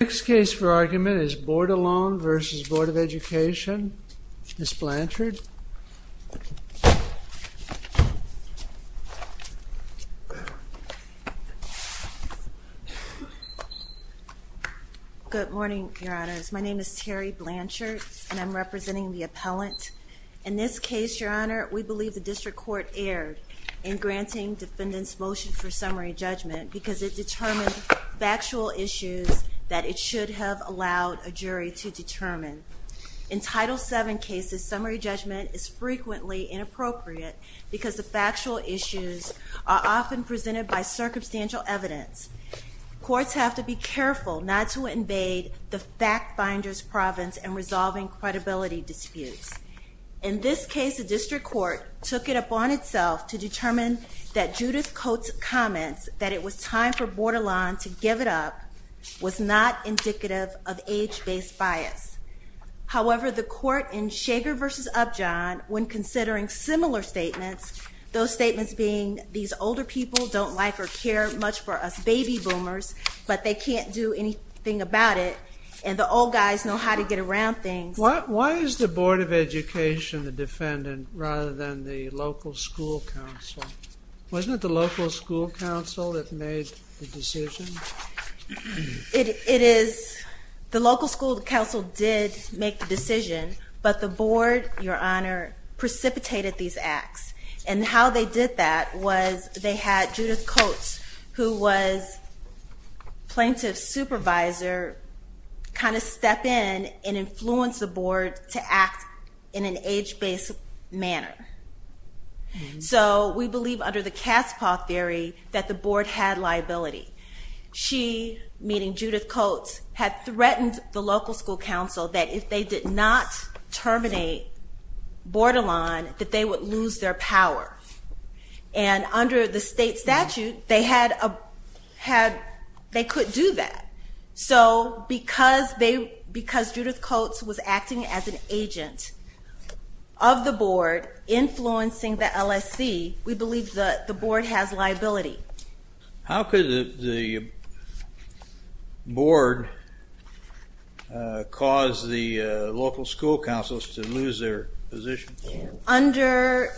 Next case for argument is Bordelon v. Board of Education. Ms. Blanchard. Good morning, Your Honors. My name is Terry Blanchard, and I'm representing the appellant. In this case, Your Honor, we believe the District Court erred in granting defendants' motion for summary judgment because it determined factual issues that it should have allowed a jury to determine. In Title VII cases, summary judgment is frequently inappropriate because the factual issues are often presented by circumstantial evidence. Courts have to be careful not to invade the fact-finder's province in resolving credibility disputes. In this case, the District Court took it upon itself to determine that Judith Coates' comments that it was time for Bordelon to give it up was not indicative of age-based bias. However, the court in Shager v. Upjohn, when considering similar statements, those statements being, these older people don't like or care much for us baby boomers, but they can't do anything about it, and the old guys know how to get around things. Why is the Board of Education the defendant rather than the local school council? Wasn't it the local school council that made the decision? It is, the local school council did make the decision, but the board, Your Honor, precipitated these acts. And how they did that was they had Judith Coates, who was plaintiff's supervisor, kind of step in and influence the board to act in an age-based manner. So we believe under the cat's paw theory that the board had liability. She, meaning Judith Coates, had threatened the local school council that if they did not terminate Bordelon, that they would lose their power. And under the state statute, they could do that. So because Judith Coates was acting as an agent of the board, influencing the LSC, we believe the board has liability. How could the board cause the local school council to lose their position? Under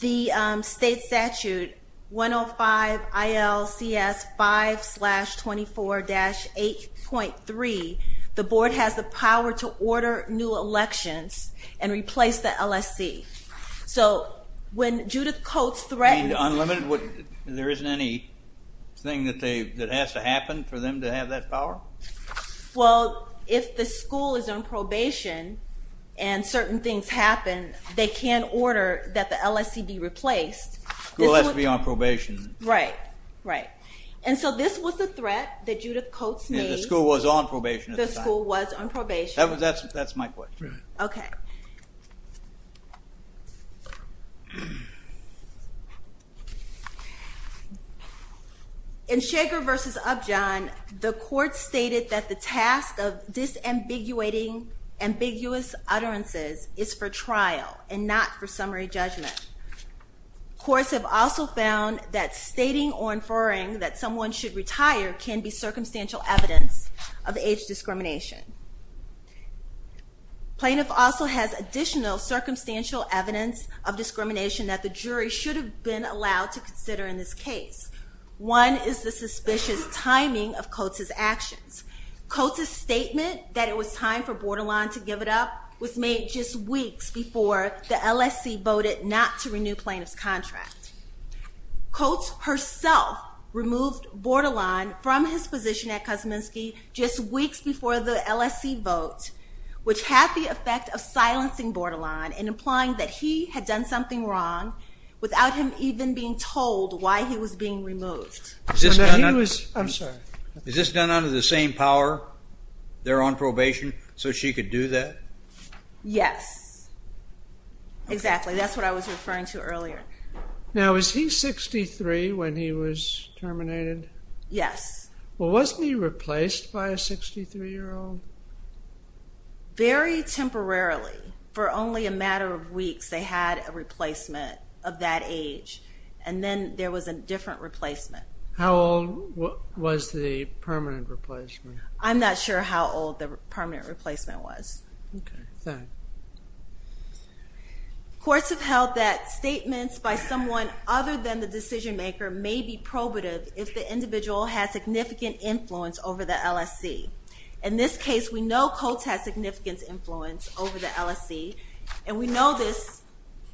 the state statute 105-IL-CS-5-24-8.3, the board has the power to order new elections and replace the LSC. So when Judith Coates threatened... Unlimited? There isn't anything that has to happen for them to have that power? Well, if the school is on probation and certain things happen, they can order that the LSC be replaced. The school has to be on probation. Right, right. And so this was the threat that Judith Coates made. The school was on probation at the time. The school was on probation. That's my question. Okay. In Shaker v. Upjohn, the court stated that the task of disambiguating ambiguous utterances is for trial and not for summary judgment. Courts have also found that stating or inferring that someone should retire can be circumstantial evidence of age discrimination. Plaintiff also has additional circumstantial evidence of discrimination that the jury should have been allowed to consider in this case. One is the suspicious timing of Coates' actions. Coates' statement that it was time for Bordelon to give it up was made just weeks before the LSC voted not to renew plaintiff's contract. Coates herself removed Bordelon from his position at Kosminski just weeks before the LSC vote, which had the effect of silencing Bordelon and implying that he had done something wrong without him even being told why he was being removed. I'm sorry. Is this done under the same power? They're on probation so she could do that? Yes. Exactly. That's what I was referring to earlier. Now, was he 63 when he was terminated? Yes. Well, wasn't he replaced by a 63-year-old? Very temporarily. For only a matter of weeks, they had a replacement of that age. And then there was a different replacement. How old was the permanent replacement? I'm not sure how old the permanent replacement was. Okay. Courts have held that statements by someone other than the decision-maker may be probative if the individual has significant influence over the LSC. In this case, we know Coates has significant influence over the LSC, and we know this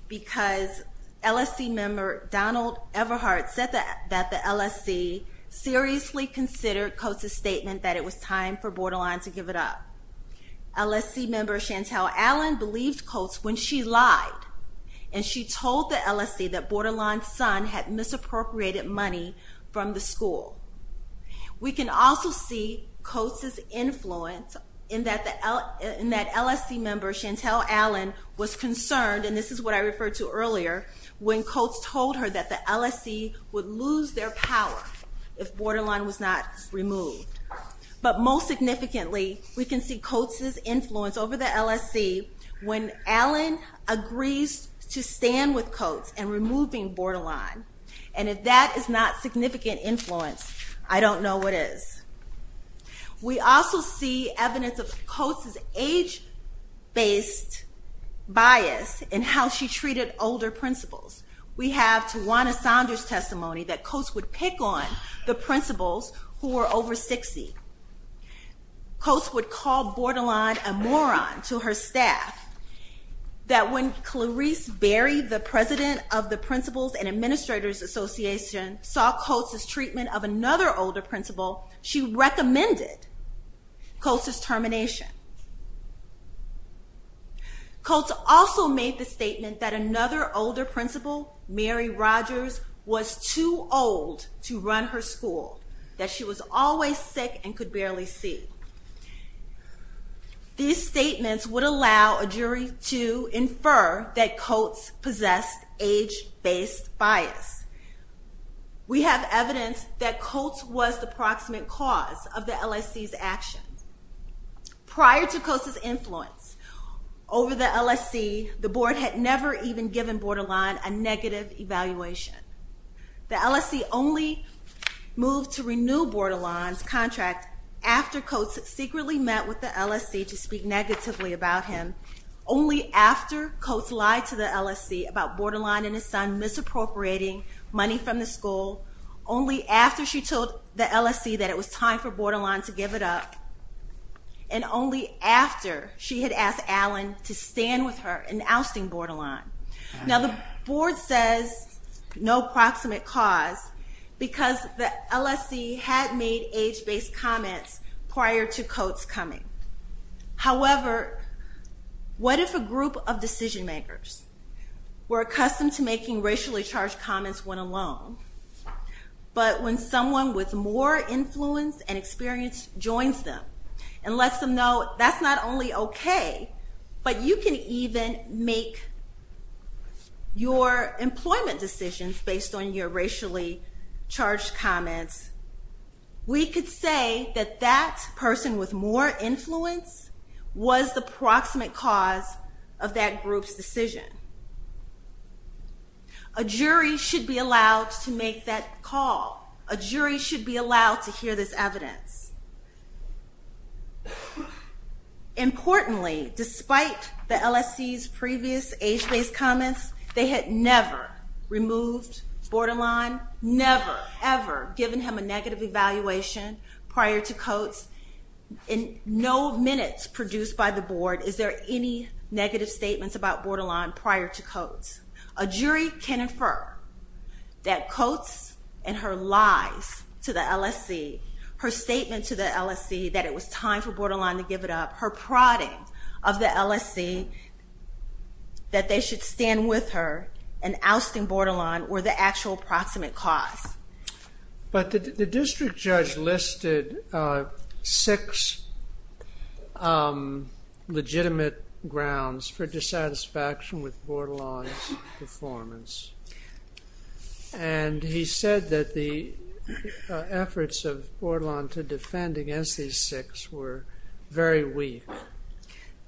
because LSC member Donald Everhart said that the LSC seriously considered Coates' statement that it was time for Bordelon to give it up. LSC member Chantel Allen believed Coates when she lied, and she told the LSC that Bordelon's son had misappropriated money from the school. We can also see Coates' influence in that LSC member Chantel Allen was concerned, and this is what I referred to earlier, when Coates told her that the LSC would lose their power if Bordelon was not removed. But most significantly, we can see Coates' influence over the LSC when Allen agrees to stand with Coates in removing Bordelon. And if that is not significant influence, I don't know what is. We also see evidence of Coates' age-based bias in how she treated older principals. We have Tawana Saunders' testimony that Coates would pick on the principals who were over 60. Coates would call Bordelon a moron to her staff, that when Clarice Berry, the president of the Principals and Administrators Association, saw Coates' treatment of another older principal, she recommended Coates' termination. Coates also made the statement that another older principal, Mary Rogers, was too old to run her school, that she was always sick and could barely see. These statements would allow a jury to infer that Coates possessed age-based bias. We have evidence that Coates was the proximate cause of the LSC's actions. Prior to Coates' influence over the LSC, the board had never even given Bordelon a negative evaluation. The LSC only moved to renew Bordelon's contract after Coates secretly met with the LSC to speak negatively about him, only after Coates lied to the LSC about Bordelon and his son misappropriating money from the school, only after she told the LSC that it was time for Bordelon to give it up, and only after she had asked Allen to stand with her in ousting Bordelon. Now the board says no proximate cause because the LSC had made age-based comments prior to Coates' coming. However, what if a group of decision makers were accustomed to making racially charged comments when alone, but when someone with more influence and experience joins them and lets them know that's not only okay, but you can even make your employment decisions based on your racially charged comments, we could say that that person with more influence was the proximate cause of that group's decision. A jury should be allowed to make that call. A jury should be allowed to hear this evidence. Importantly, despite the LSC's previous age-based comments, they had never removed Bordelon, never, ever given him a negative evaluation prior to Coates. In no minutes produced by the board is there any negative statements about Bordelon prior to Coates. A jury can infer that Coates and her lies to the LSC, her statement to the LSC that it was time for Bordelon to give it up, her prodding of the LSC that they should stand with her in ousting Bordelon were the actual proximate cause. But the district judge listed six legitimate grounds for dissatisfaction with Bordelon's performance. And he said that the efforts of Bordelon to defend against these six were very weak.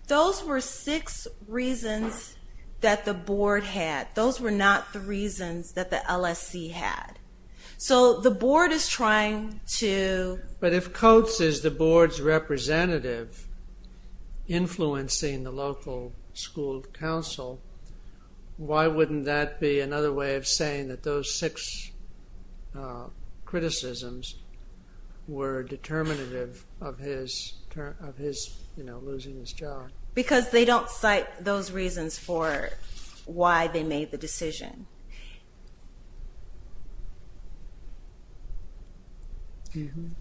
Those were six reasons that the board had. Those were not the reasons that the LSC had. So the board is trying to... But if Coates is the board's representative influencing the local school council, why wouldn't that be another way of saying that those six criticisms were determinative of his losing his job? Because they don't cite those reasons for why they made the decision.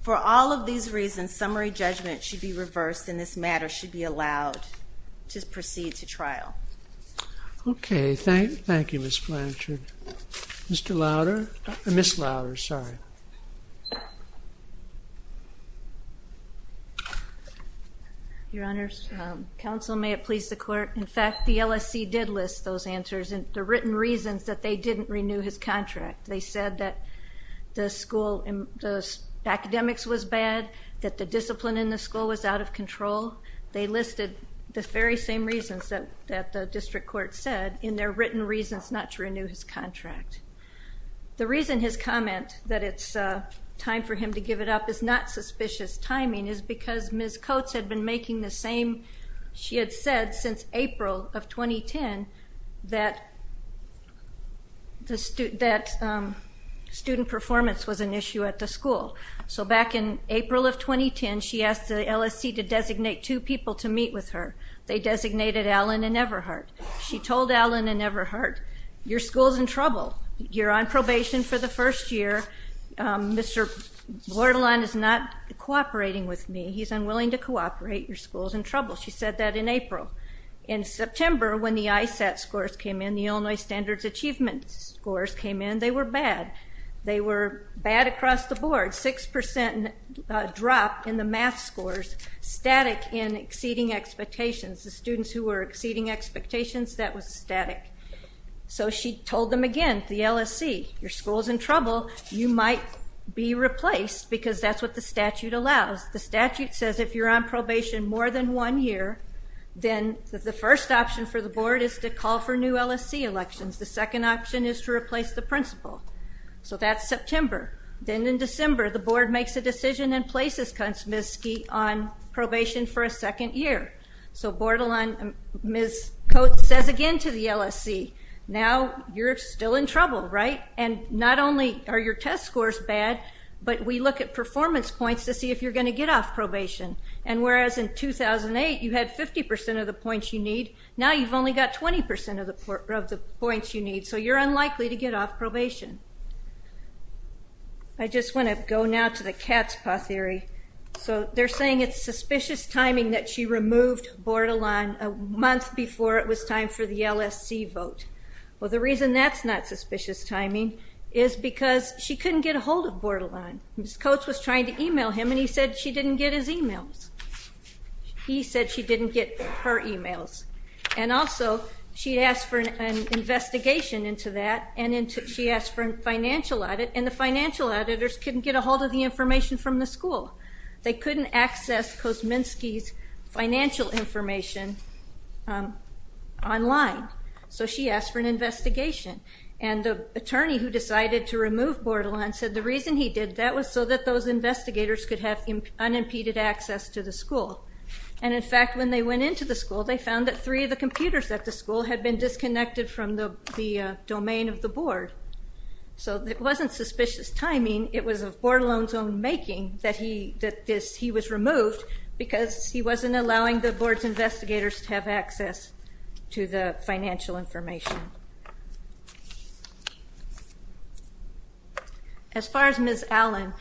For all of these reasons, summary judgment should be reversed, and this matter should be allowed to proceed to trial. Okay. Thank you, Ms. Blanchard. Mr. Lowder? Ms. Lowder, sorry. Your Honor, counsel, may it please the court, in fact, the LSC did list those answers. The written reasons that they didn't renew his contract. They said that the academics was bad, that the discipline in the school was out of control. They listed the very same reasons that the district court said in their written reasons not to renew his contract. The reason his comment that it's time for him to give it up is not suspicious timing is because Ms. Coates had been making the same... ...that student performance was an issue at the school. So back in April of 2010, she asked the LSC to designate two people to meet with her. They designated Allen and Everhart. She told Allen and Everhart, your school's in trouble. You're on probation for the first year. Mr. Bordelon is not cooperating with me. He's unwilling to cooperate. Your school's in trouble. She said that in April. In September, when the ISAT scores came in, the Illinois Standards Achievement scores came in, they were bad. They were bad across the board, 6% drop in the math scores, static in exceeding expectations. The students who were exceeding expectations, that was static. So she told them again, the LSC, your school's in trouble. You might be replaced because that's what the statute allows. The statute says if you're on probation more than one year, then the first option for the board is to call for new LSC elections. The second option is to replace the principal. So that's September. Then in December, the board makes a decision and places Ms. Ski on probation for a second year. So Ms. Coates says again to the LSC, now you're still in trouble, right? And not only are your test scores bad, but we look at performance points to see if you're going to get off probation. And whereas in 2008, you had 50% of the points you need, now you've only got 20% of the points you need. So you're unlikely to get off probation. I just want to go now to the cat's paw theory. So they're saying it's suspicious timing that she removed Bordelon a month before it was time for the LSC vote. Well, the reason that's not suspicious timing is because she couldn't get a hold of Bordelon. Ms. Coates was trying to e-mail him, and he said she didn't get his e-mails. He said she didn't get her e-mails. And also, she asked for an investigation into that, and she asked for a financial audit, and the financial editors couldn't get a hold of the information from the school. They couldn't access Kosminski's financial information online. So she asked for an investigation. And the attorney who decided to remove Bordelon said the reason he did that was so that those investigators could have unimpeded access to the school. And, in fact, when they went into the school, they found that three of the computers at the school had been disconnected from the domain of the board. So it wasn't suspicious timing. It was of Bordelon's own making that he was removed because he wasn't allowing the board's investigators to have access to the financial information. As far as Ms. Allen,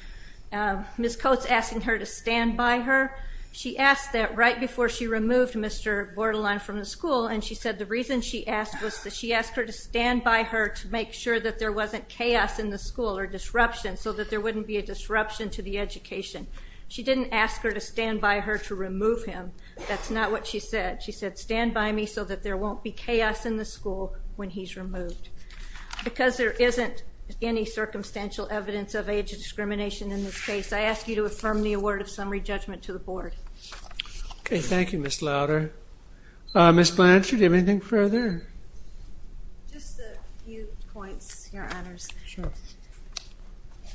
Ms. Coates asking her to stand by her, she asked that right before she removed Mr. Bordelon from the school, and she said the reason she asked was that she asked her to stand by her to make sure that there wasn't chaos in the school or disruption so that there wouldn't be a disruption to the education. She didn't ask her to stand by her to remove him. That's not what she said. She said stand by me so that there won't be chaos in the school when he's removed. Because there isn't any circumstantial evidence of age discrimination in this case, I ask you to affirm the award of summary judgment to the board. Okay. Thank you, Ms. Lowder. Ms. Blanchard, anything further? Just a few points, Your Honors. Sure.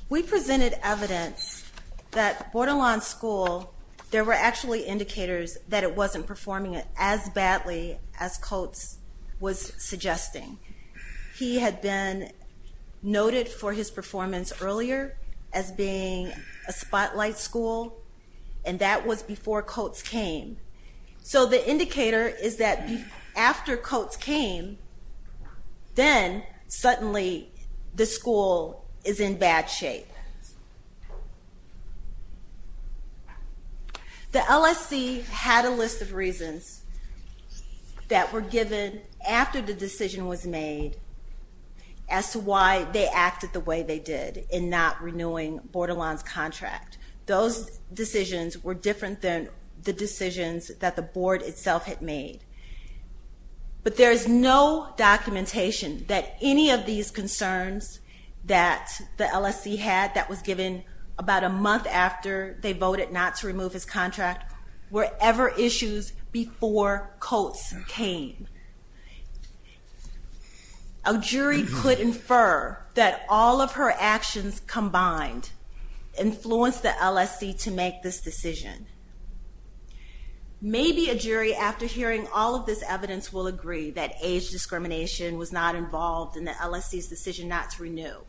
We presented evidence that Bordelon's school, there were actually indicators that it wasn't performing as badly as Coates was suggesting. He had been noted for his performance earlier as being a spotlight school, and that was before Coates came. So the indicator is that after Coates came, then suddenly the school is in bad shape. The LSC had a list of reasons that were given after the decision was made as to why they acted the way they did in not renewing Bordelon's contract. Those decisions were different than the decisions that the board itself had made. But there is no documentation that any of these concerns that the LSC had that was given about a month after they voted not to remove his contract were ever issues before Coates came. A jury could infer that all of her actions combined influenced the LSC to make this decision. Maybe a jury, after hearing all of this evidence, will agree that age discrimination was not involved in the LSC's decision not to renew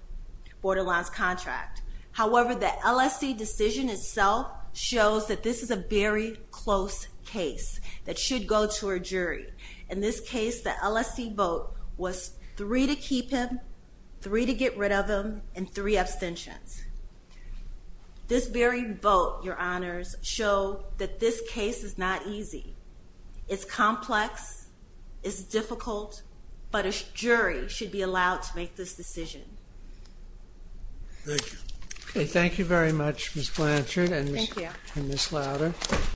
Bordelon's contract. However, the LSC decision itself shows that this is a very close case that should go to a jury. In this case, the LSC vote was three to keep him, three to get rid of him, and three abstentions. This very vote, Your Honors, show that this case is not easy. It's complex, it's difficult, but a jury should be allowed to make this decision. Thank you. Thank you very much, Ms. Blanchard and Ms. Lowder.